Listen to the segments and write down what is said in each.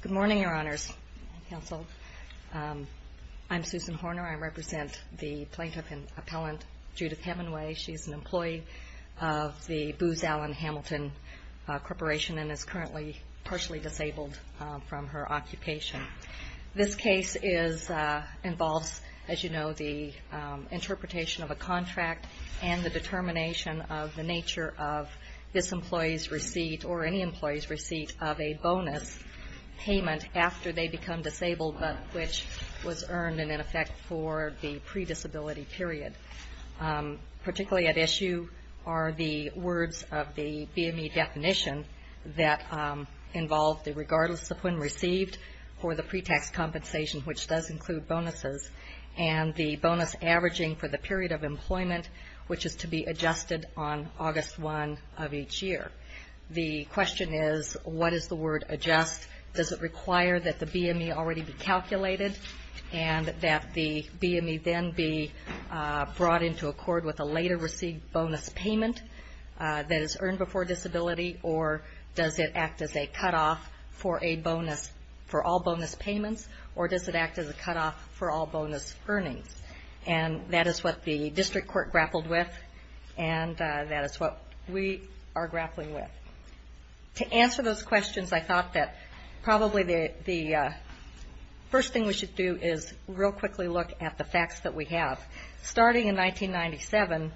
Good morning, Your Honors, Counsel. I'm Susan Horner. I represent the Plaintiff and Appellant Judith Hemenway. She's an employee of the Booz Allen Hamilton Corporation and is currently partially disabled from her occupation. This case involves, as you know, the interpretation of a contract and the determination of the nature of this employee's receipt or any employee's receipt of a bonus payment after they become disabled but which was earned and in effect for the pre-disability period. Particularly at issue are the words of the BME definition that involve the regardless of when received or the pre-tax compensation which does include bonuses and the bonus averaging for the period of employment which is to be adjusted. The question is what is the word adjust? Does it require that the BME already be calculated and that the BME then be brought into accord with a later receipt bonus payment that is earned before disability or does it act as a cutoff for all bonus payments or does it act as a cutoff for all bonus earnings? And that is what the District Court grappled with and that is what we are dealing with. To answer those questions, I thought that probably the first thing we should do is real quickly look at the facts that we have. Starting in 1997,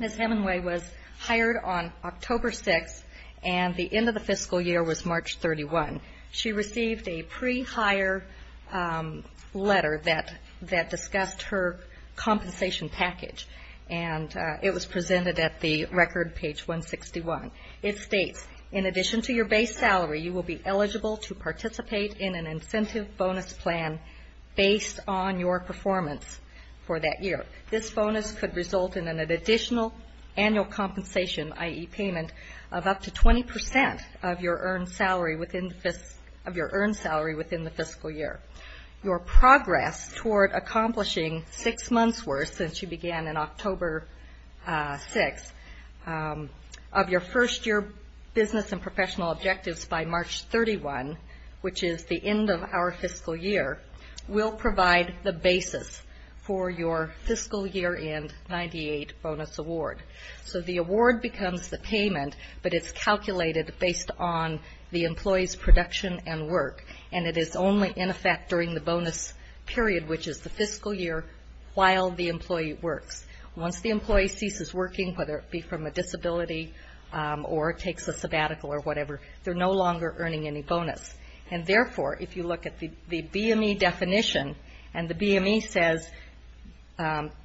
Ms. Hemenway was hired on October 6 and the end of the fiscal year was March 31. She received a pre-hire letter that discussed her compensation package and it was presented at the record page 161. It states, in addition to your base salary, you will be eligible to participate in an incentive bonus plan based on your performance for that year. This bonus could result in an additional annual compensation, i.e. payment, of up to 20% of your earned salary within the fiscal year. Your progress toward accomplishing six months worth since you began in October 6 of your first year business and professional objectives by March 31, which is the end of our fiscal year, will provide the basis for your fiscal year end 98 bonus award. So the award becomes the payment, but it's calculated based on the employee's production and work and it is only in effect during the bonus period, which is the fiscal year while the employee works. Once the employee ceases working, whether it be from a disability or takes a sabbatical or whatever, they're no longer earning any bonus. And therefore, if you look at the BME definition and the BME says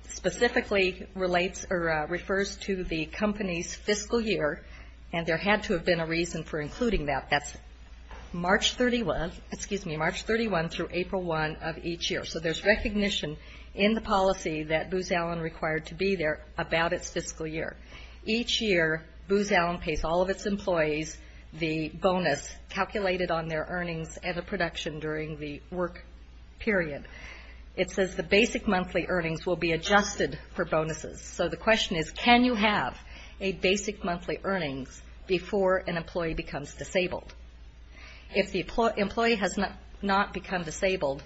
specifically relates or refers to the company's fiscal year, and there had to have been a reason for including that, that's March 31 through April 1 of each year. So there's recognition in the policy that Booz Allen required to be there about its fiscal year. Each year, Booz Allen pays all of its employees the bonus calculated on their earnings and the production during the work period. It says the basic monthly earnings before an employee becomes disabled. If the employee has not become disabled,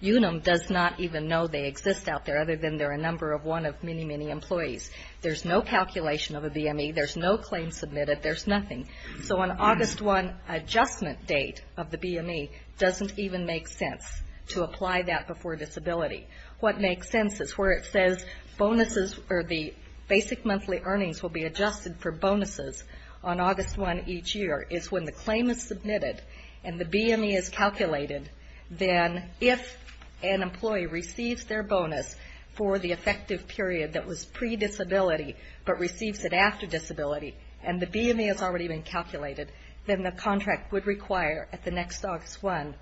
Unum does not even know they exist out there other than they're a number of one of many, many employees. There's no calculation of a BME. There's no claim submitted. There's nothing. So on August 1 adjustment date of the BME doesn't even make sense to apply that before disability. What makes sense is where it says bonuses or the basic monthly earnings will be their bonuses on August 1 each year is when the claim is submitted and the BME is calculated, then if an employee receives their bonus for the effective period that was pre-disability but receives it after disability and the BME has already been calculated, then the contract would require at the next August 1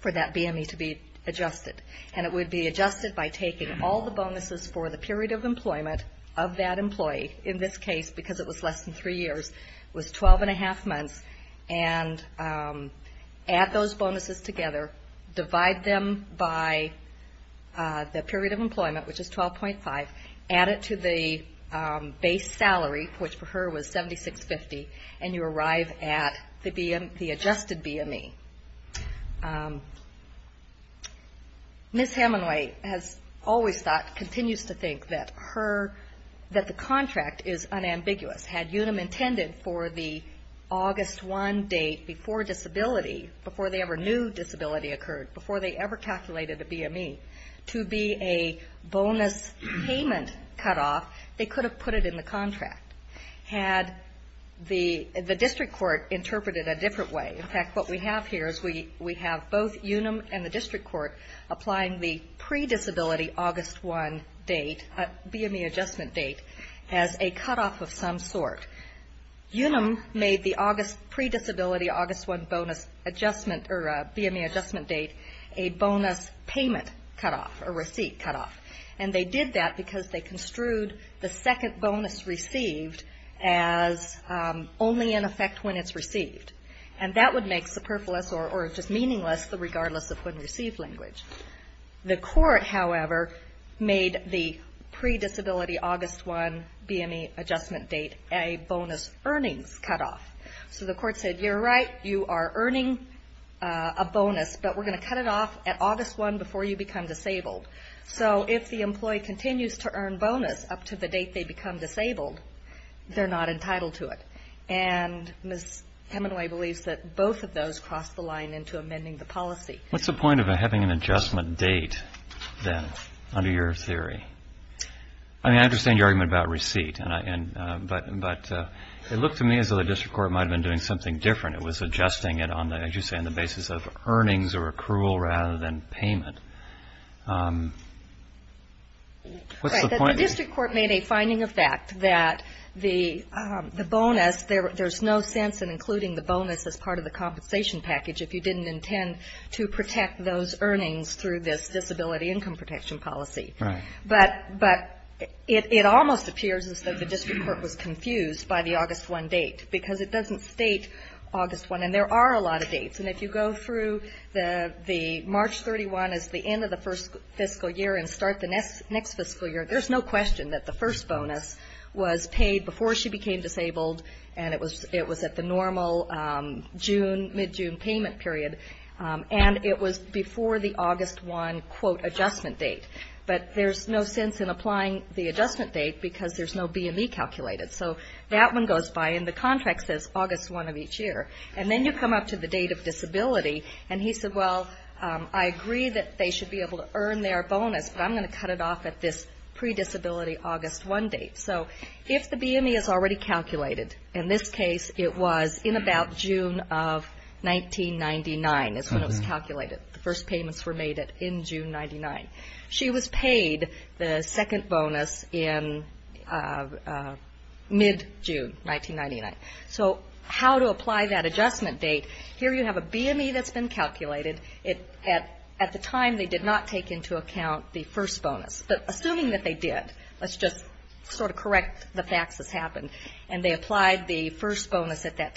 for that BME to be adjusted. And it would be adjusted by taking all the bonuses for the period of employment of that employee, in this case because it was less than three years, was 12 and a half months, and add those bonuses together, divide them by the period of employment, which is 12.5, add it to the base salary, which for her was $76.50, and you arrive at the adjusted BME. Ms. Hemingway has always thought, continues to think that her, that the contract is unambiguous. Had Unum intended for the August 1 date before disability, before they ever knew disability occurred, before they ever calculated a BME to be a bonus payment cutoff, they could have put it in the have both Unum and the district court applying the pre-disability August 1 date, BME adjustment date, as a cutoff of some sort. Unum made the pre-disability August 1 bonus adjustment, or BME adjustment date, a bonus payment cutoff, a receipt cutoff. And they did that because they construed the second bonus received as only in effect when it's received. And that would make superfluous or just meaningless the regardless of when received language. The court, however, made the pre-disability August 1 BME adjustment date a bonus earnings cutoff. So the court said, you're right, you are up to the date they become disabled, they're not entitled to it. And Ms. Hemingway believes that both of those cross the line into amending the policy. What's the point of having an adjustment date then, under your theory? I mean, I understand your argument about receipt, but it looked to me as though the finding of fact that the bonus, there's no sense in including the bonus as part of the compensation package if you didn't intend to protect those earnings through this disability income protection policy. But it almost appears as though the district court was confused by the August 1 date, because it doesn't state August 1, and there are a lot of dates. And if you go through the March 31 as the end of the first fiscal year and start the next fiscal year, there's no question that the first bonus was paid before she became disabled, and it was at the normal June, mid-June payment period. And it was before the August 1, quote, of each year. And then you come up to the date of disability, and he said, well, I agree that they should be able to earn their bonus, but I'm going to cut it off at this pre-disability August 1 date. So if the BME is already calculated, in this case it was in about June of 1999 is when it was calculated, the was paid the second bonus in mid-June 1999. So how to apply that adjustment date, here you have a BME that's been calculated. At the time they did not take into account the first bonus. But assuming that they did, let's just sort of correct the facts as happened, and they applied the first bonus at that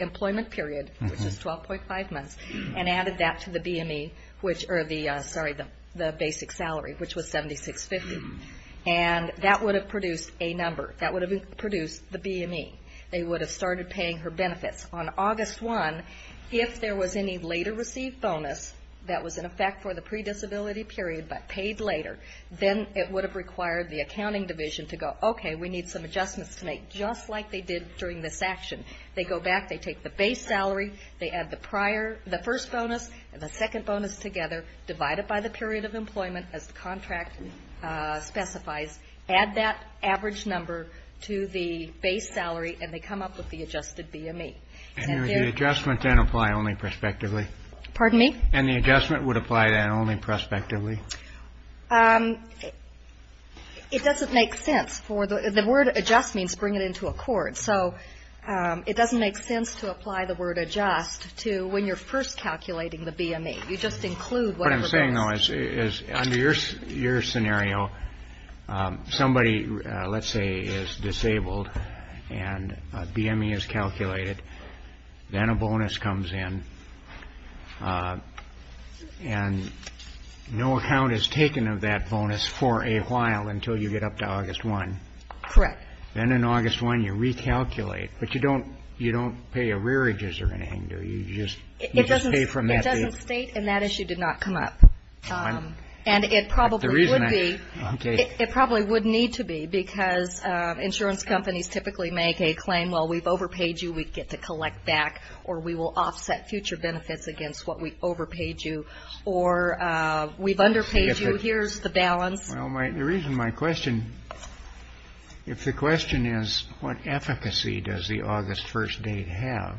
employment period, which was 12.5 months, and added that to the BME, which, or the, sorry, the basic salary, which was 76.50. And that would have produced a number. That would have produced the BME. They would have started paying her benefits on August 1. If there was any later received bonus that was in effect for the pre-disability period, but paid later, then it would have required the accounting division to go, okay, we need some adjustments to make, just like they did during this action. They go back, they take the base salary, they add the prior, the first bonus, and the second bonus together, divide it by the period of employment as the contract specifies, add that average number to the base salary, and they come up with the adjusted BME. And would the adjustment then apply only prospectively? Pardon me? And the adjustment would apply then only prospectively? It doesn't make sense for the, the word adjust means bring it into a court, so it doesn't make sense to apply the word adjust to when you're first calculating the BME. You just include whatever goes. Under your scenario, somebody, let's say, is disabled, and a BME is calculated, then a bonus comes in, and no account is taken of that bonus for a while until you get up to August 1. Correct. Then in August 1, you recalculate, but you don't, you don't pay arrearages or anything, do you? You just, you just pay from that. It doesn't state, and that issue did not come up. And it probably would be, it probably would need to be, because insurance companies typically make a claim, well, we've overpaid you, we get to collect back, or we will offset future benefits against what we overpaid you, or we've underpaid you, here's the balance. Well, my, the reason my question, if the question is what efficacy does the August 1 date have,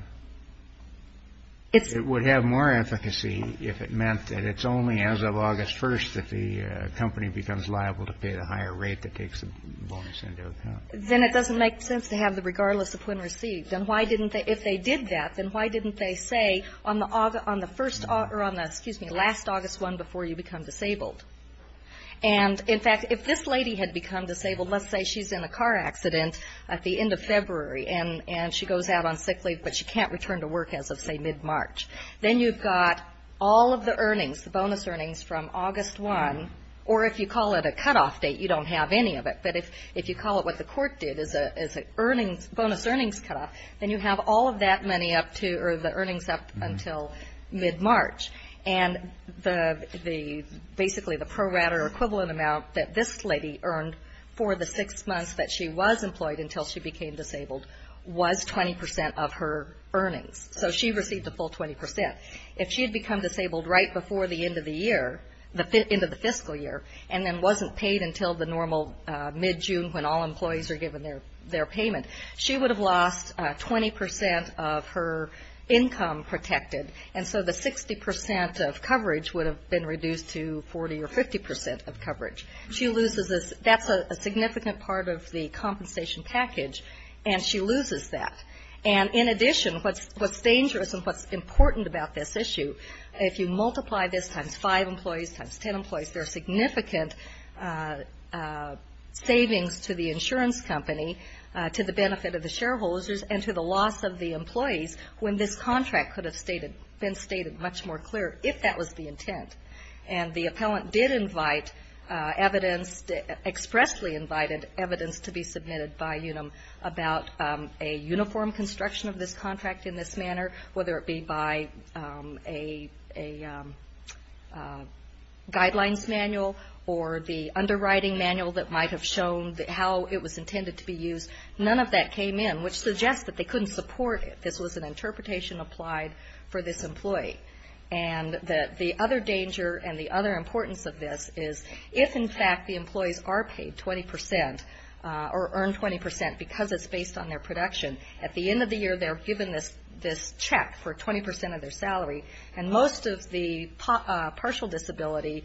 it would have more efficacy if it meant that it's only as of August 1 that the company becomes liable to pay the higher rate that takes the bonus into account. Then it doesn't make sense to have the regardless of when received. And why didn't they, if they did that, then why didn't they say on the, on the first, or on the, excuse me, last August 1 before you become disabled? And, in fact, if this lady had become disabled, let's say she's in a car accident at the end of February, and she goes out on sick leave, but she can't return to work as of, say, mid-March, then you've got all of the earnings, the bonus earnings from August 1, or if you call it a cutoff date, you don't have any of it, but if you call it what the court did as a cutoff, then you have all of that money up to, or the earnings up until mid-March. And the, the, basically the pro rata or equivalent amount that this lady earned for the six months that she was employed until she became disabled was 20 percent of her earnings. So she received the full 20 percent. If she had become disabled right before the end of the year, the end of the fiscal year, and then wasn't paid until the normal mid-June when all she would have lost 20 percent of her income protected, and so the 60 percent of coverage would have been reduced to 40 or 50 percent of coverage. She loses this. That's a significant part of the compensation package, and she loses that. And, in addition, what's dangerous and what's important about this issue, if you multiply this times five employees times ten employees, there are significant savings to the insurance company, to the benefit of the shareholders, and to the loss of the employees when this contract could have been stated much more clear if that was the intent. And the appellant did invite evidence, expressly invited evidence to be submitted by UNUM about a uniform construction of this contract in this manner, whether it be by a guidelines manual or the underwriting manual that might have shown how it was intended to be used. None of that came in, which suggests that they couldn't support it. This was an interpretation applied for this employee. And the other danger and the other importance of this is if, in fact, the employees are paid 20 percent or earn 20 percent because it's based on their production, at the end of the year they're given this check for 20 percent of their salary, and most of the partial disability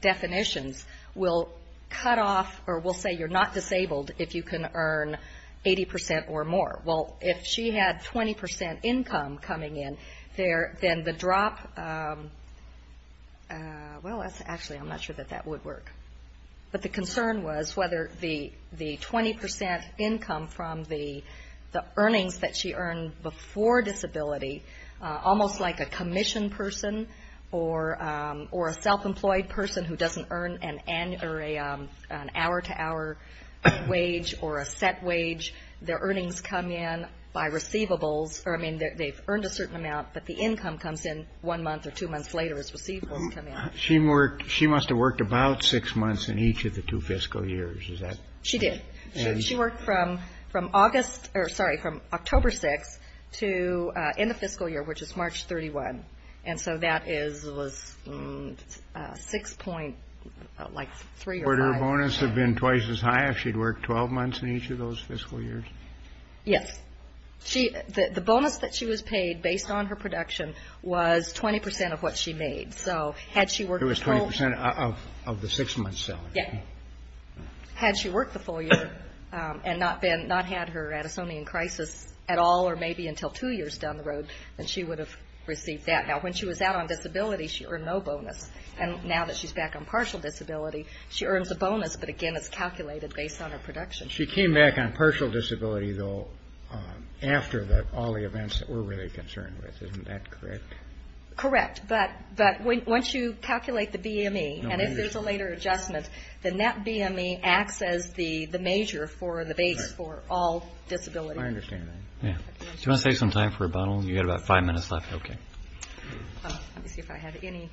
definitions will cut off or will say you're not disabled if you can earn 80 percent or more. Well, if she had 20 percent income coming in, then the drop, well, actually I'm not sure that that would work. But the concern was whether the 20 percent income from the earnings that she earned before disability, almost like a commission person or a self-employed person who doesn't earn an hour-to-hour wage or a set wage, their earnings come in by receivables. I mean, they've earned a certain amount, but the income comes in one month or two months later as receivables come in. She must have worked about six months in each of the two fiscal years. Is that correct? She did. She worked from October 6th in the fiscal year, which is March 31. And so that was 6.3 or 5. Would her bonus have been twice as high if she'd worked 12 months in each of those fiscal years? Yes. The bonus that she was paid based on her production was 20 percent of what she made. It was 20 percent of the six-month salary? Yes. Had she worked the full year and not had her Addisonian crisis at all or maybe until two years down the road, then she would have received that. Now, when she was out on disability, she earned no bonus. And now that she's back on partial disability, she earns a bonus, but again, it's calculated based on her production. She came back on partial disability, though, after all the events that we're really concerned with. Isn't that correct? Correct. But once you calculate the BME and if there's a later adjustment, then that BME acts as the major for the base for all disability. I understand that. Do you want to save some time for rebuttal? You've got about five minutes left. Let me see if I have any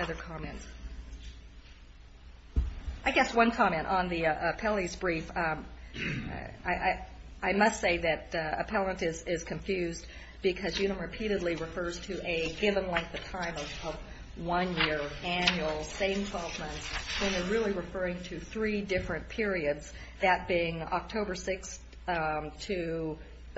other comments. I guess one comment on the appellee's brief. I must say that appellant is confused because Unum repeatedly refers to a given length of time of one year, annual, same 12 months, when they're really referring to three different periods, that being October 6,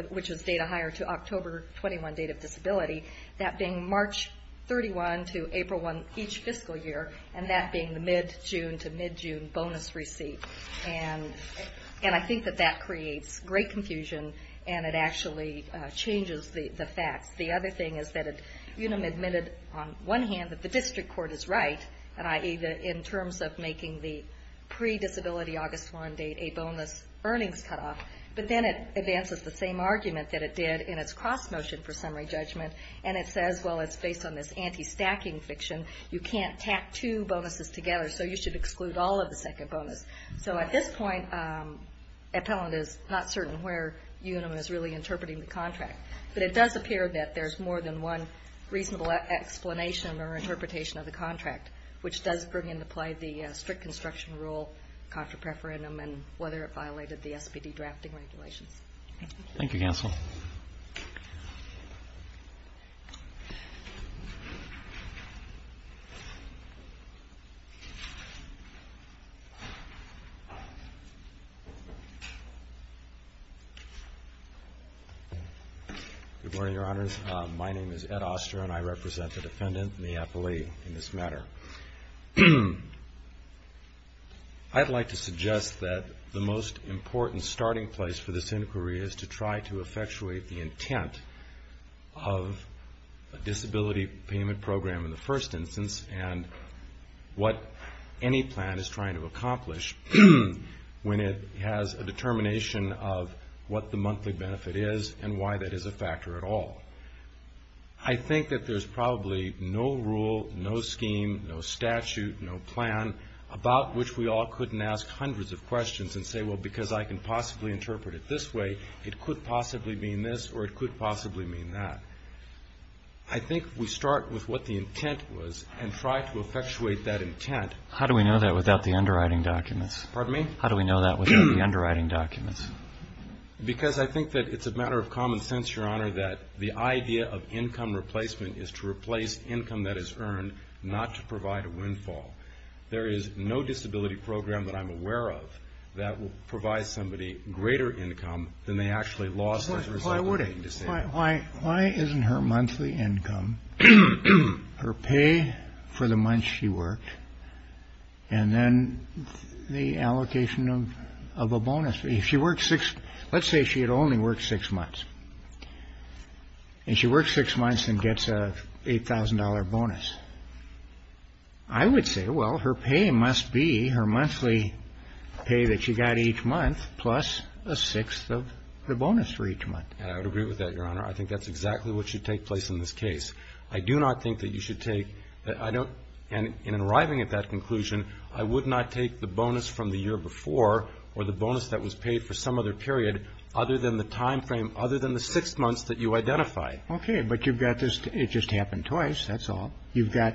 which is data higher, to October 21, date of disability, that being March 31 to April 1 each fiscal year, and that being the mid-June to mid-June bonus receipt. And I think that that creates great confusion and it actually changes the facts. The other thing is that Unum admitted on one hand that the district court is right, i.e., in terms of making the pre-disability August 1 date a bonus earnings cutoff, but then it advances the same argument that it did in its cross-motion for summary judgment and it says, well, it's based on this anti-stacking fiction. You can't tack two bonuses together, so you should exclude all of the second bonus. So at this point, appellant is not certain where Unum is really interpreting the contract. But it does appear that there's more than one reasonable explanation or interpretation of the contract, which does bring into play the strict construction rule contra preferendum and whether it violated the SPD drafting regulations. Thank you, counsel. Good morning, Your Honors. My name is Ed Oster and I represent the defendant and the appellee in this matter. I'd like to suggest that the most effectuate the intent of a disability payment program in the first instance and what any plan is trying to accomplish when it has a determination of what the monthly benefit is and why that is a factor at all. I think that there's probably no rule, no scheme, no statute, no plan about which we all of questions and say, well, because I can possibly interpret it this way, it could possibly mean this or it could possibly mean that. I think we start with what the intent was and try to effectuate that intent. How do we know that without the underwriting documents? Pardon me? How do we know that without the underwriting documents? Because I think that it's a matter of common sense, Your Honor, that the idea of income replacement is to replace income that is earned, not to provide a windfall. There is no disability program that I'm aware of that will provide somebody greater income than they actually lost as a result of being disabled. Why wouldn't it? Why isn't her monthly income, her pay for the months she worked, and then the allocation of a bonus? Let's say she had only worked six months. And she works six months and gets an $8,000 bonus. I would say, well, her pay must be her monthly pay that she got each month plus a sixth of the bonus for each month. And I would agree with that, Your Honor. I think that's exactly what should take place in this case. I do not think that you should take – and in arriving at that period, other than the timeframe, other than the six months that you identify. Okay. But you've got this – it just happened twice, that's all. You've got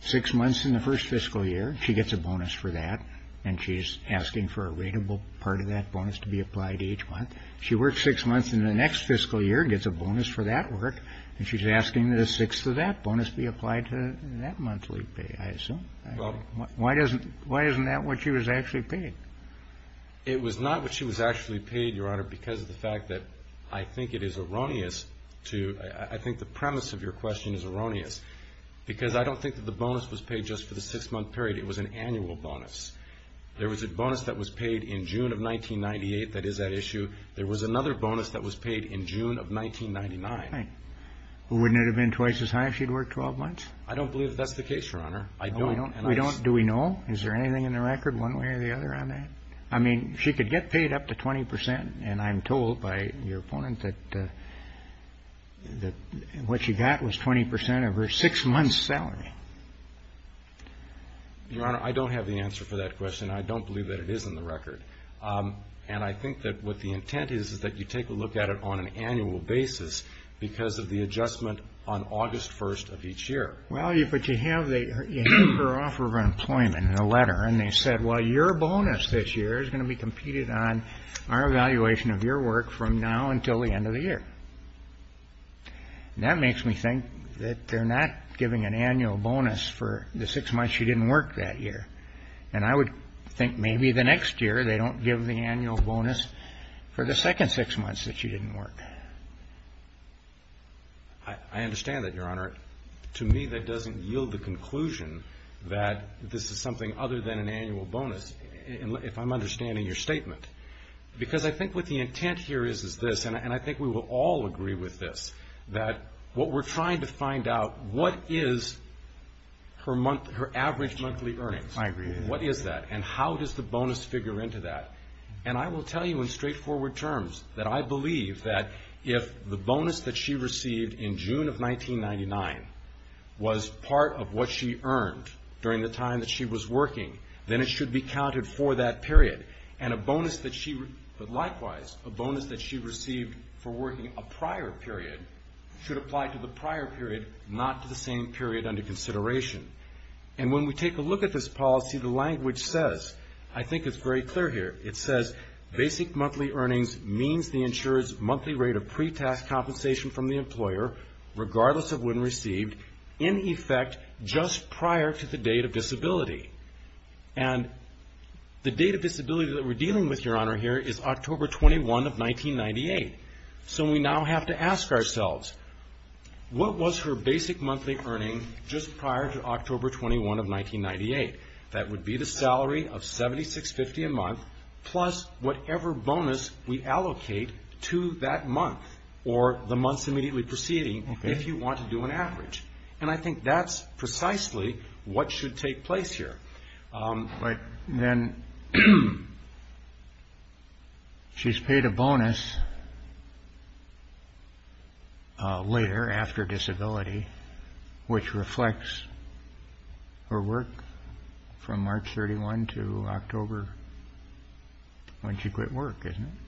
six months in the first fiscal year. She gets a bonus for that. And she's asking for a rateable part of that bonus to be applied each month. She works six months in the next fiscal year, gets a bonus for that work. And she's asking that a sixth of that bonus be applied to that monthly pay, I assume. Well – Why doesn't – why isn't that what she was actually paid? It was not what she was actually paid, Your Honor, because of the fact that I think it is erroneous to – I think the premise of your question is erroneous. Because I don't think that the bonus was paid just for the six-month period. It was an annual bonus. There was a bonus that was paid in June of 1998. That is at issue. There was another bonus that was paid in June of 1999. Okay. Well, wouldn't it have been twice as high if she'd worked 12 months? I don't believe that that's the case, Your Honor. I don't. We don't – do we know? Is there anything in the record one way or the other on that? I mean, she could get paid up to 20 percent, and I'm told by your opponent that what she got was 20 percent of her six-month salary. Your Honor, I don't have the answer for that question. I don't believe that it is in the record. And I think that what the intent is is that you take a look at it on an annual basis because of the adjustment on August 1st of each year. Well, but you have the – you have her offer of employment in a letter, and they said, well, your bonus this year is going to be competed on our evaluation of your work from now until the end of the year. And that makes me think that they're not giving an annual bonus for the six months she didn't work that year. And I would think maybe the next year they don't give the annual bonus for the second six months that she didn't work. I understand that, Your Honor. To me, that doesn't yield the conclusion that this is something other than an annual bonus, if I'm understanding your statement. Because I think what the intent here is, is this, and I think we will all agree with this, that what we're trying to find out, what is her average monthly earnings? I agree with that. What is that? And how does the bonus figure into that? And I will tell you in straightforward terms that I believe that if the bonus that she received in June of 1999 was part of what she earned during the time that she was working, then it should be counted for that period. And a bonus that she – but likewise, a bonus that she received for working a prior period should apply to the prior period, not to the same period under consideration. And when we take a look at this policy, the language says – I think it's very clear here – it says, basic monthly earnings means the insurer's monthly rate of pre-tax compensation from the employer, regardless of when received, in effect just prior to the date of disability. And the date of disability that we're dealing with, Your Honor, here is October 21 of 1998. So we now have to ask ourselves, what was her basic monthly earning just prior to October 21 of 1998? That would be the salary of $76.50 a month, plus whatever bonus we allocate to that month or the months immediately preceding, if you want to do an average. And I think that's precisely what should take place here. But then she's paid a bonus later, after disability, which reflects her work from March 31 to October when she quit work, isn't it?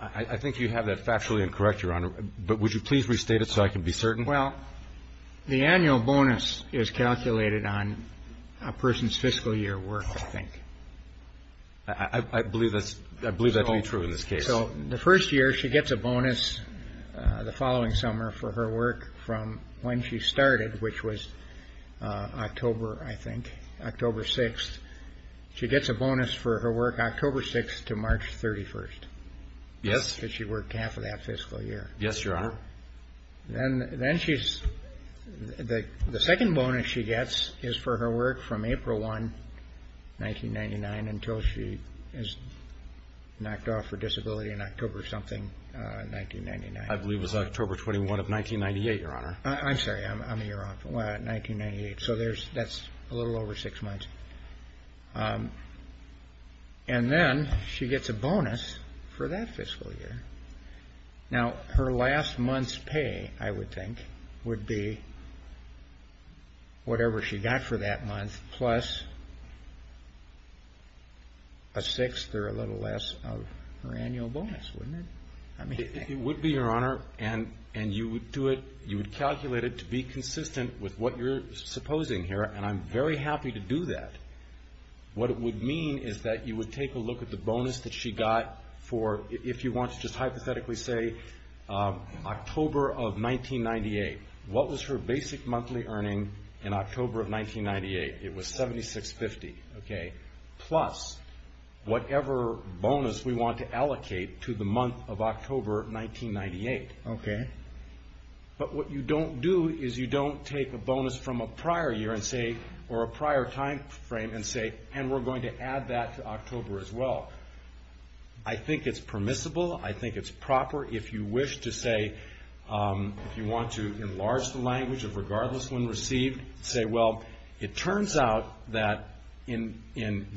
I think you have that factually incorrect, Your Honor, but would you please restate it so I can be certain? Well, the annual bonus is calculated on a person's fiscal year work, I think. I believe that to be true in this case. So the first year, she gets a bonus the following summer for her work from when she started, which was October, I think, October 6. She gets a bonus for her work October 6 to March 31. Yes. Because she worked half of that fiscal year. Yes, Your Honor. The second bonus she gets is for her work from April 1, 1999, until she is knocked off for disability in October something, 1999. I believe it was October 21 of 1998, Your Honor. I'm sorry. I'm a year off. Well, 1998. So that's a little over six months. And then she gets a bonus for that fiscal year. Now, her last month's pay, I would think, would be whatever she got for that month plus a sixth or a little less of her annual bonus, wouldn't it? It would be, Your Honor, and you would do it, you would calculate it to be consistent with what you're supposing here, and I'm very happy to do that. What it would mean is that you would take a look at the bonus that she got for, if you want to just hypothetically say, October of 1998. What was her basic monthly earning in October of 1998? It was $76.50, okay, plus whatever bonus we want to allocate to the month of October 1998. Okay. But what you don't do is you don't take a bonus from a prior year and say, or a prior time frame and say, and we're going to add that to October as well. I think it's permissible. I think it's proper. If you wish to say, if you want to enlarge the language of regardless when received, say, well, it turns out that in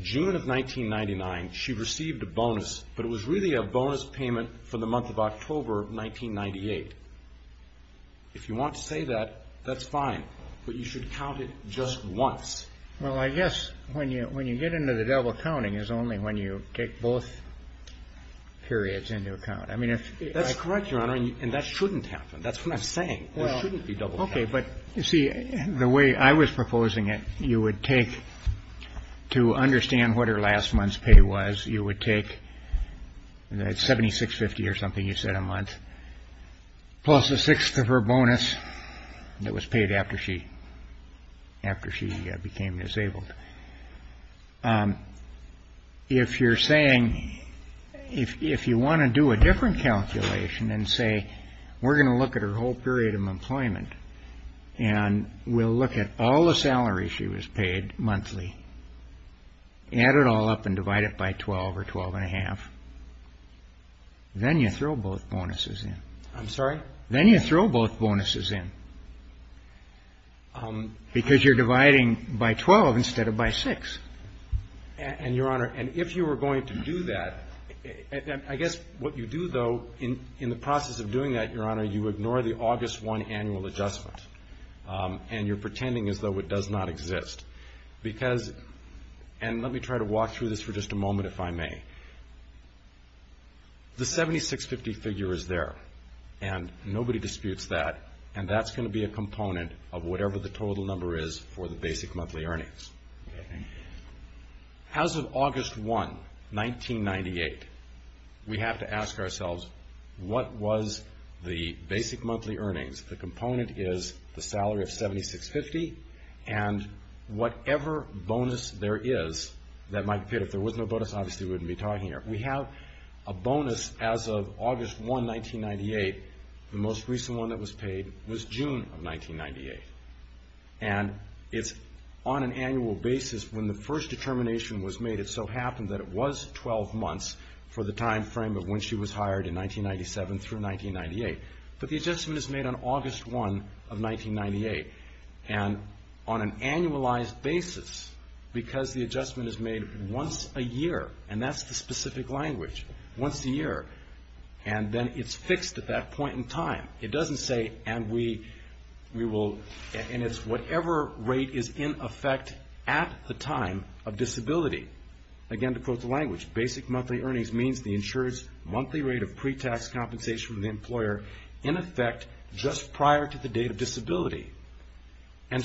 June of 1999, she received a bonus, but it was really a bonus payment for the month of October of 1998. If you want to say that, that's fine, but you should count it just once. Well, I guess when you get into the double counting is only when you take both periods into account. That's correct, Your Honor, and that shouldn't happen. That's what I'm saying. There shouldn't be double counting. Okay, but you see, the way I was proposing it, you would take, to understand what her last month's pay was, you would take that $76.50 or something, you said a month, plus a sixth of her bonus that was paid after she became disabled. If you're saying, if you want to do a different calculation and say, we're going to look at her whole period of employment, and we'll look at all the salaries she was paid monthly, add it all up and divide it by 12 or 12 and a half, then you throw both bonuses in. I'm sorry? Divide it by six. And, Your Honor, and if you were going to do that, I guess what you do, though, in the process of doing that, Your Honor, you ignore the August 1 annual adjustment, and you're pretending as though it does not exist. Because, and let me try to walk through this for just a moment, if I may, the $76.50 figure is there, and nobody disputes that, and that's going to be a component of whatever the total number is for the basic monthly earnings. As of August 1, 1998, we have to ask ourselves, what was the basic monthly earnings? The component is the salary of $76.50, and whatever bonus there is that might appear. If there was no bonus, obviously we wouldn't be talking here. We have a bonus as of August 1, 1998. The most recent one that was paid was June of 1998, and it's on an annual basis. When the first determination was made, it so happened that it was 12 months for the timeframe of when she was hired in 1997 through 1998. But the adjustment is made on August 1 of 1998, and on an annualized basis, because the adjustment is made once a year, and that's the specific language, once a year. And then it's fixed at that point in time. It doesn't say, and we will, and it's whatever rate is in effect at the time of disability. Again, to quote the language, basic monthly earnings means the insurer's monthly rate of pre-tax compensation with the employer And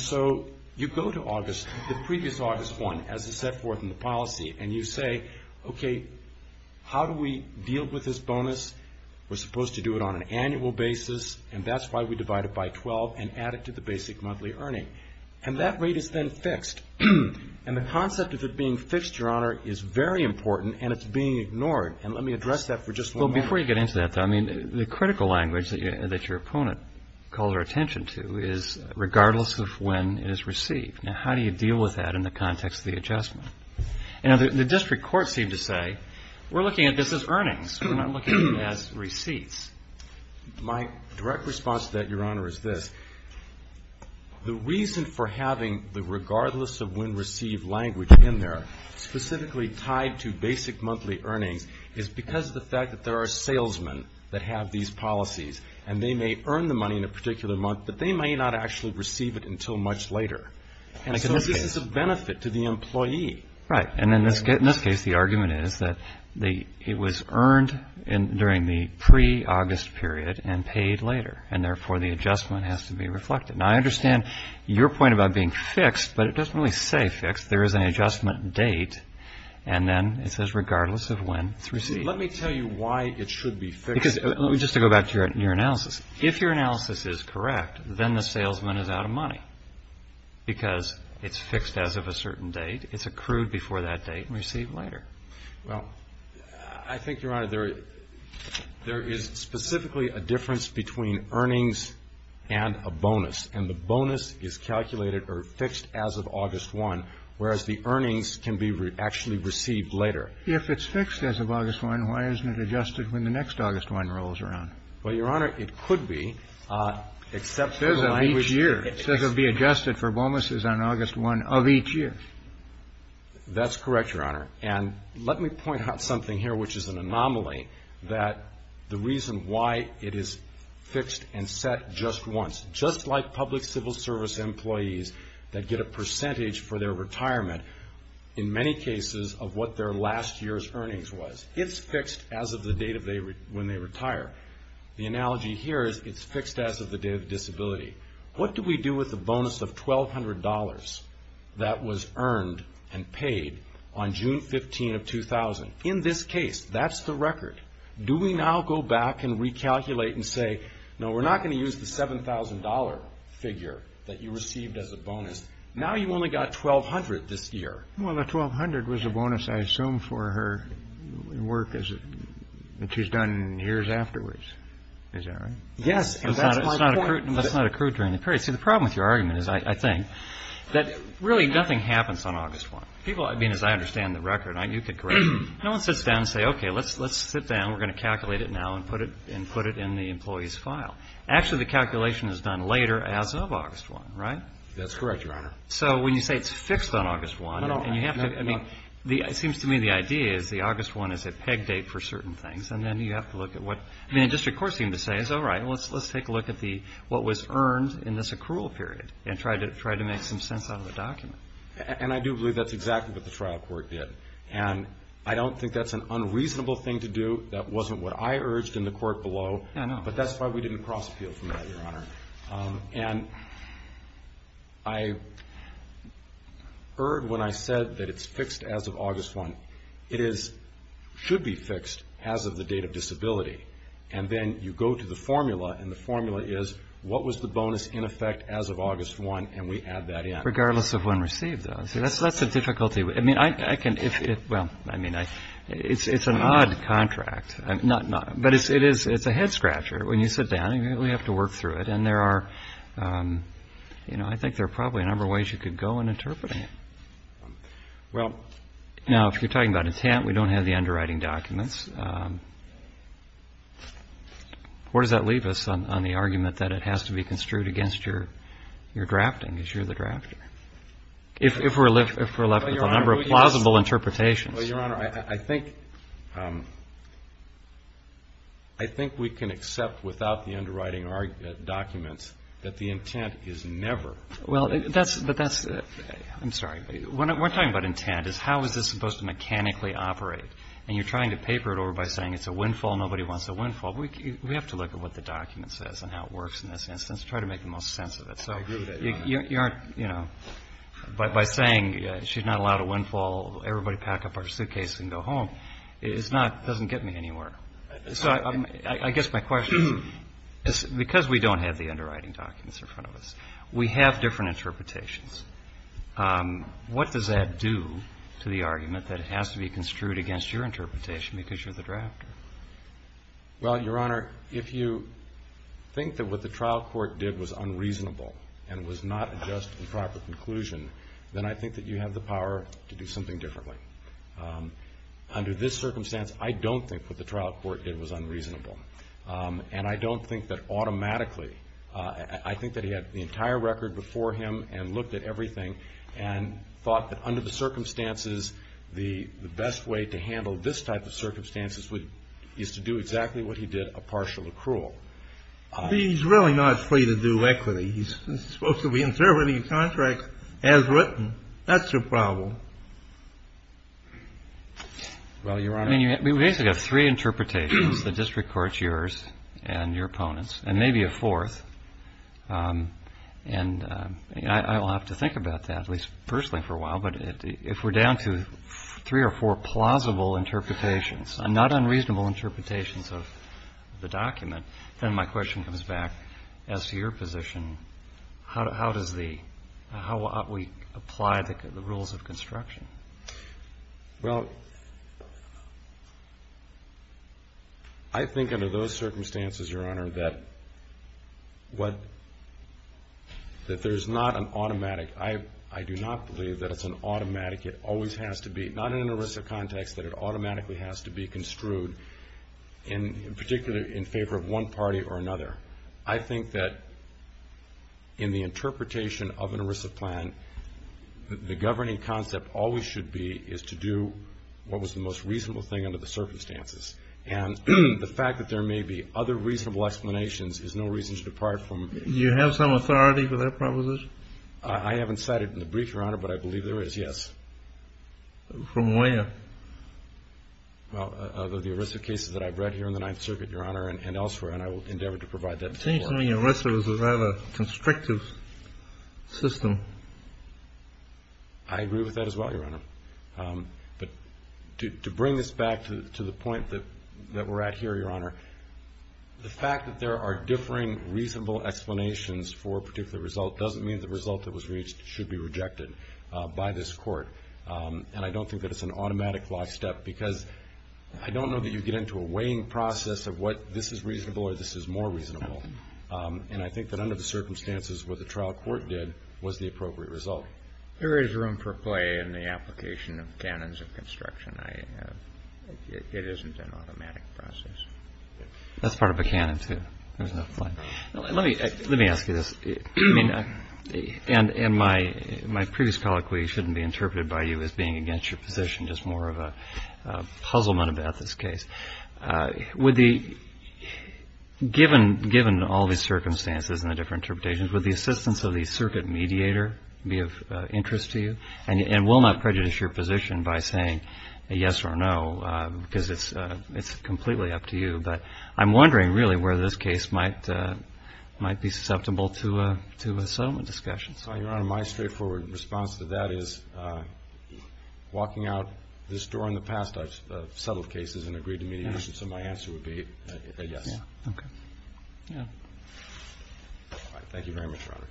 so you go to August, the previous August 1, as is set forth in the policy, and you say, okay, how do we deal with this bonus? We're supposed to do it on an annual basis, and that's why we divide it by 12 and add it to the basic monthly earning. And that rate is then fixed. And the concept of it being fixed, Your Honor, is very important, and it's being ignored. Before you get into that, though, I mean, the critical language that your opponent calls our attention to is, regardless of when it is received. Now, how do you deal with that in the context of the adjustment? Now, the district courts seem to say, we're looking at this as earnings. We're not looking at it as receipts. My direct response to that, Your Honor, is this. The reason for having the regardless of when received language in there, specifically tied to basic monthly earnings, is because of the fact that there are salesmen that have these policies, and they may earn the money in a particular month, but they may not actually receive it until much later. And so this is a benefit to the employee. Right. And in this case, the argument is that it was earned during the pre-August period and paid later, and therefore the adjustment has to be reflected. Now, I understand your point about being fixed, but it doesn't really say fixed. There is an adjustment date, and then it says regardless of when it's received. Let me tell you why it should be fixed. Just to go back to your analysis. If your analysis is correct, then the salesman is out of money because it's fixed as of a certain date. It's accrued before that date and received later. Well, I think, Your Honor, there is specifically a difference between earnings and a bonus, and the bonus is calculated or fixed as of August 1, whereas the earnings can be actually received later. If it's fixed as of August 1, why isn't it adjusted when the next August 1 rolls around? Well, Your Honor, it could be, except for the language. It says it will be adjusted for bonuses on August 1 of each year. That's correct, Your Honor. And let me point out something here, which is an anomaly, that the reason why it is fixed and set just once. Just like public civil service employees that get a percentage for their retirement, in many cases of what their last year's earnings was, it's fixed as of the date when they retire. The analogy here is it's fixed as of the date of disability. What do we do with the bonus of $1,200 that was earned and paid on June 15 of 2000? In this case, that's the record. Do we now go back and recalculate and say, no, we're not going to use the $7,000 figure that you received as a bonus? Now you've only got $1,200 this year. Well, the $1,200 was a bonus, I assume, for her work that she's done years afterwards. Is that right? Yes, and that's my point. That's not accrued during the period. See, the problem with your argument is, I think, that really nothing happens on August 1. People, I mean, as I understand the record, you could correct me. No one sits down and says, okay, let's sit down. We're going to calculate it now and put it in the employee's file. Actually, the calculation is done later as of August 1, right? That's correct, Your Honor. So when you say it's fixed on August 1 and you have to, I mean, it seems to me the idea is the August 1 is a peg date for certain things, and then you have to look at what, I mean, the district court seemed to say, all right, let's take a look at what was earned in this accrual period and try to make some sense out of the document. And I do believe that's exactly what the trial court did. And I don't think that's an unreasonable thing to do. That wasn't what I urged in the court below. No, no. But that's why we didn't cross-appeal from that, Your Honor. And I heard when I said that it's fixed as of August 1, it should be fixed as of the date of disability. And then you go to the formula, and the formula is what was the bonus in effect as of August 1, and we add that in. Regardless of when received, though. See, that's the difficulty. I mean, I can, well, I mean, it's an odd contract. But it's a head-scratcher. When you sit down, you really have to work through it. And there are, you know, I think there are probably a number of ways you could go in interpreting it. Now, if you're talking about intent, we don't have the underwriting documents. Where does that leave us on the argument that it has to be construed against your drafting, because you're the drafter? If we're left with a number of plausible interpretations. Well, Your Honor, I think we can accept without the underwriting documents that the intent is never. Well, that's the best. I'm sorry. What we're talking about intent is how is this supposed to mechanically operate. And you're trying to paper it over by saying it's a windfall, nobody wants a windfall. We have to look at what the document says and how it works in this instance to try to make the most sense of it. I agree with that. You aren't, you know, by saying she's not allowed a windfall, everybody pack up our suitcases and go home, it doesn't get me anywhere. So I guess my question is, because we don't have the underwriting documents in front of us, we have different interpretations. What does that do to the argument that it has to be construed against your interpretation because you're the drafter? Well, Your Honor, if you think that what the trial court did was unreasonable and was not a just and proper conclusion, then I think that you have the power to do something differently. Under this circumstance, I don't think what the trial court did was unreasonable. And I don't think that automatically, I think that he had the entire record before him and looked at everything and thought that under the circumstances, the best way to handle this type of circumstances is to do exactly what he did, a partial accrual. He's really not free to do equity. He's supposed to be interpreting contracts as written. That's your problem. Well, Your Honor. I mean, we basically have three interpretations. The district court's yours and your opponent's, and maybe a fourth. And I will have to think about that, at least personally, for a while. But if we're down to three or four plausible interpretations, not unreasonable interpretations of the document, then my question comes back as to your position. How does the – how ought we apply the rules of construction? Well, I think under those circumstances, Your Honor, that what – that there's not an automatic. I do not believe that it's an automatic. It always has to be, not in an ERISA context, that it automatically has to be construed in particular in favor of one party or another. I think that in the interpretation of an ERISA plan, the governing concept always should be is to do what was the most reasonable thing under the circumstances. And the fact that there may be other reasonable explanations is no reason to depart from it. Do you have some authority for that proposition? I haven't cited it in the brief, Your Honor, but I believe there is, yes. From where? Well, the ERISA cases that I've read here in the Ninth Circuit, Your Honor, and elsewhere. And I will endeavor to provide that report. It seems to me ERISA is a rather constrictive system. I agree with that as well, Your Honor. But to bring this back to the point that we're at here, Your Honor, the fact that there are differing reasonable explanations for a particular result doesn't mean the result that was reached should be rejected by this Court. And I don't think that it's an automatic last step because I don't know that you get into a weighing process of what this is reasonable or this is more reasonable. And I think that under the circumstances what the trial court did was the appropriate result. There is room for play in the application of canons of construction. It isn't an automatic process. That's part of a canon, too. Let me ask you this. And my previous colloquy shouldn't be interpreted by you as being against your position, just more of a puzzlement about this case. Given all the circumstances and the different interpretations, would the assistance of the circuit mediator be of interest to you? And will not prejudice your position by saying yes or no because it's completely up to you. But I'm wondering really where this case might be susceptible to a settlement discussion. Your Honor, my straightforward response to that is walking out this door in the past, I've settled cases and agreed to mediation, so my answer would be a yes. Okay. Yeah. All right. Thank you very much, Robert.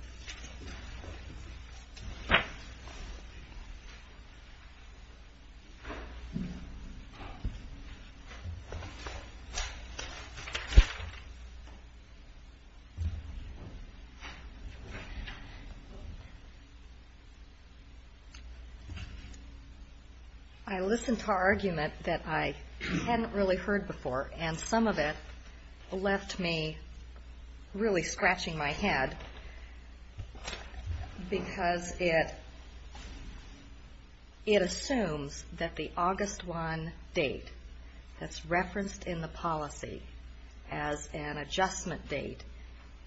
I listened to our argument that I hadn't really heard before, and some of it left me really scratching my head because it assumes that the August 1 date that's referenced in the policy as an adjustment date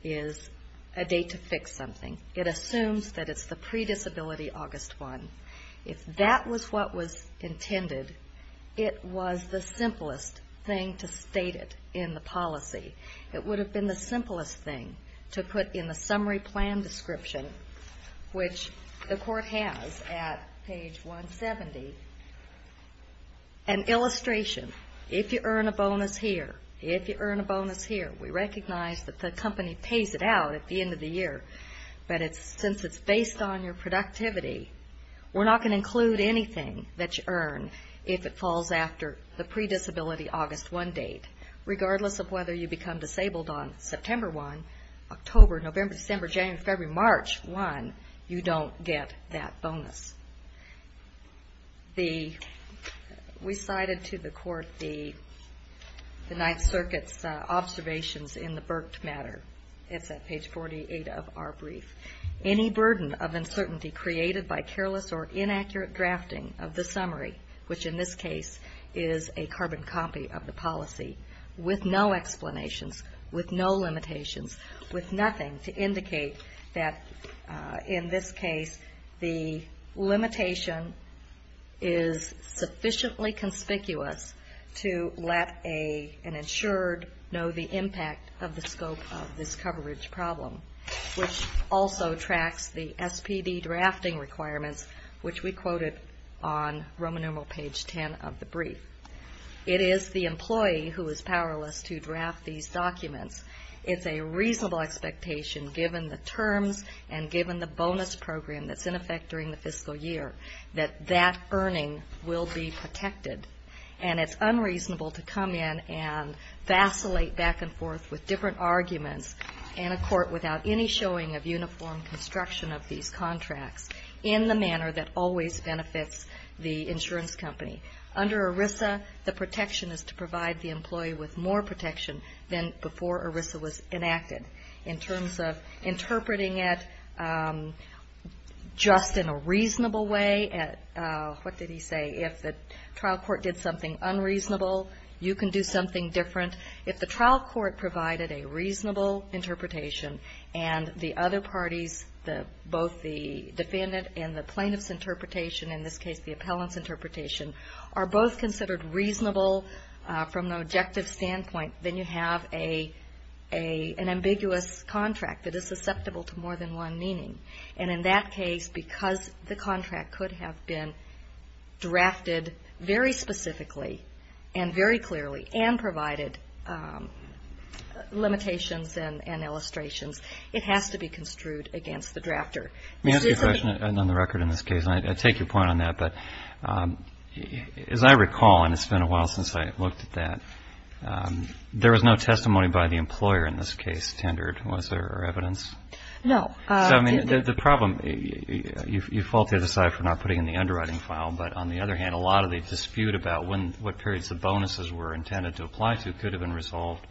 is a date to fix something. It assumes that it's the pre-disability August 1. If that was what was intended, it was the simplest thing to state it in the policy. It would have been the simplest thing to put in the summary plan description, which the court has at page 170, an illustration. If you earn a bonus here, if you earn a bonus here, we recognize that the company pays it out at the end of the year, but since it's based on your productivity, we're not going to include anything that you earn if it falls after the pre-disability August 1 date. Regardless of whether you become disabled on September 1, October, November, December, January, February, March 1, you don't get that bonus. We cited to the court the Ninth Circuit's observations in the Burke matter. It's at page 48 of our brief. Any burden of uncertainty created by careless or inaccurate drafting of the summary, which in this case is a carbon copy of the policy, with no explanations, with no limitations, with nothing to indicate that in this case the limitation is sufficiently conspicuous to let an insured know the impact of the scope of this coverage problem, which also tracks the SPD drafting requirements, which we quoted on Roman numeral page 10 of the brief. It is the employee who is powerless to draft these documents. It's a reasonable expectation, given the terms and given the bonus program that's in effect during the fiscal year, that that earning will be protected, and it's unreasonable to come in and vacillate back and forth with different arguments in a court without any showing of uniform construction of these contracts in the manner that always benefits the insurance company. Under ERISA, the protection is to provide the employee with more protection than before ERISA was enacted. In terms of interpreting it just in a reasonable way, what did he say? If the trial court did something unreasonable, you can do something different. If the trial court provided a reasonable interpretation and the other parties, both the defendant and the plaintiff's interpretation, in this case the appellant's interpretation, are both considered reasonable from an objective standpoint, then you have an ambiguous contract that is susceptible to more than one meaning. And in that case, because the contract could have been drafted very specifically and very clearly and provided limitations and illustrations, it has to be construed against the drafter. Let me ask you a question on the record in this case. And I take your point on that. But as I recall, and it's been a while since I looked at that, there was no testimony by the employer in this case tendered. Was there evidence? No. So, I mean, the problem you faulted aside for not putting in the underwriting file. But on the other hand, a lot of the dispute about when, what periods the bonuses were intended to apply to could have been resolved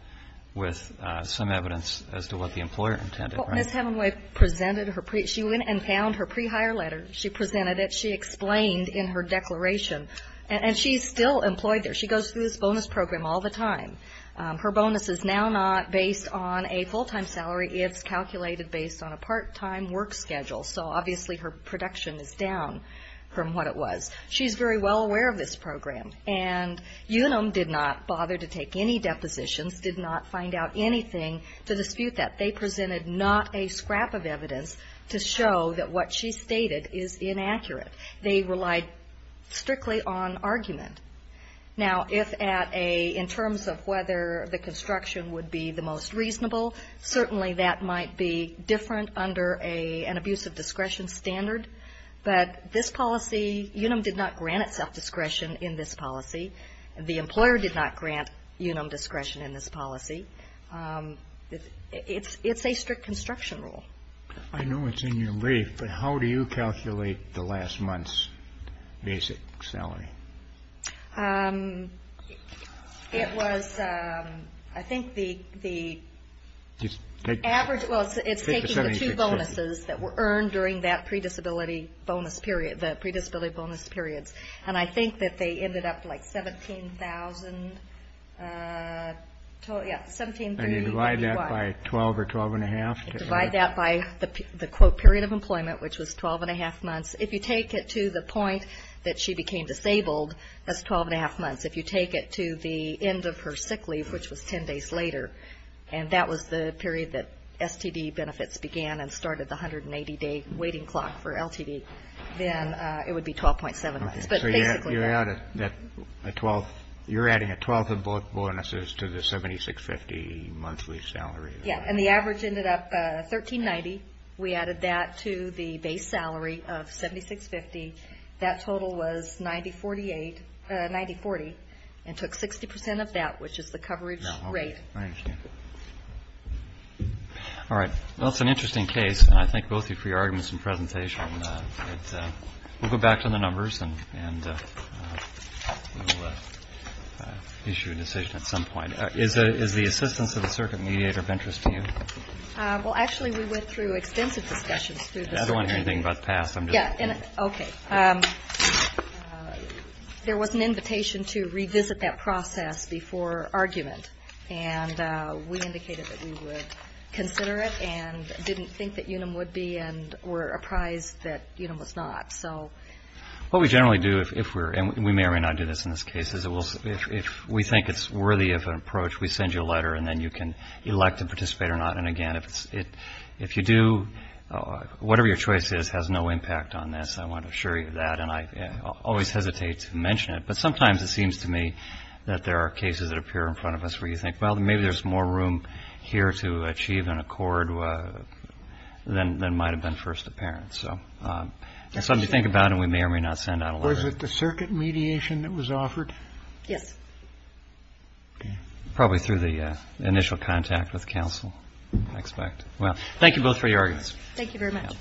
with some evidence as to what the employer intended, right? When Ms. Hemingway presented her pre- She went and found her pre-hire letter. She presented it. She explained in her declaration. And she's still employed there. She goes through this bonus program all the time. Her bonus is now not based on a full-time salary. It's calculated based on a part-time work schedule. So, obviously, her production is down from what it was. She's very well aware of this program. And Unum did not bother to take any depositions, did not find out anything to dispute that. They presented not a scrap of evidence to show that what she stated is inaccurate. They relied strictly on argument. Now, if at a, in terms of whether the construction would be the most reasonable, certainly that might be different under an abuse of discretion standard. But this policy, Unum did not grant itself discretion in this policy. It's a strict construction rule. I know it's in your brief, but how do you calculate the last month's basic salary? It was, I think the average, well, it's taking the two bonuses that were earned during that pre-disability bonus period, the pre-disability bonus periods. And I think that they ended up like 17,000, yeah, 1730. And you divide that by 12 or 12 and a half? You divide that by the, quote, period of employment, which was 12 and a half months. If you take it to the point that she became disabled, that's 12 and a half months. If you take it to the end of her sick leave, which was 10 days later, and that was the period that STD benefits began and started the 180-day waiting clock for LTD, then it would be 12.7 months. So you're adding a twelfth of bonuses to the 76.50 monthly salary? Yeah. And the average ended up 13.90. We added that to the base salary of 76.50. That total was 90.48, 90.40, and took 60 percent of that, which is the coverage rate. I understand. All right. Well, it's an interesting case. And I thank both of you for your arguments and presentation. We'll go back to the numbers, and we'll issue a decision at some point. Is the assistance of the circuit mediator of interest to you? Well, actually, we went through extensive discussions through the circuit. I don't want to hear anything about the past. Okay. There was an invitation to revisit that process before argument, and we indicated that we would consider it and didn't think that UNUM would be and were apprised that UNUM was not. What we generally do, and we may or may not do this in this case, is if we think it's worthy of an approach, we send you a letter, and then you can elect to participate or not. And, again, if you do, whatever your choice is has no impact on this. I want to assure you of that, and I always hesitate to mention it. But sometimes it seems to me that there are cases that appear in front of us where you think, well, maybe there's more room here to achieve an accord than might have been first apparent. So that's something to think about, and we may or may not send out a letter. Was it the circuit mediation that was offered? Yes. Probably through the initial contact with counsel, I expect. Well, thank you both for your arguments. Thank you very much.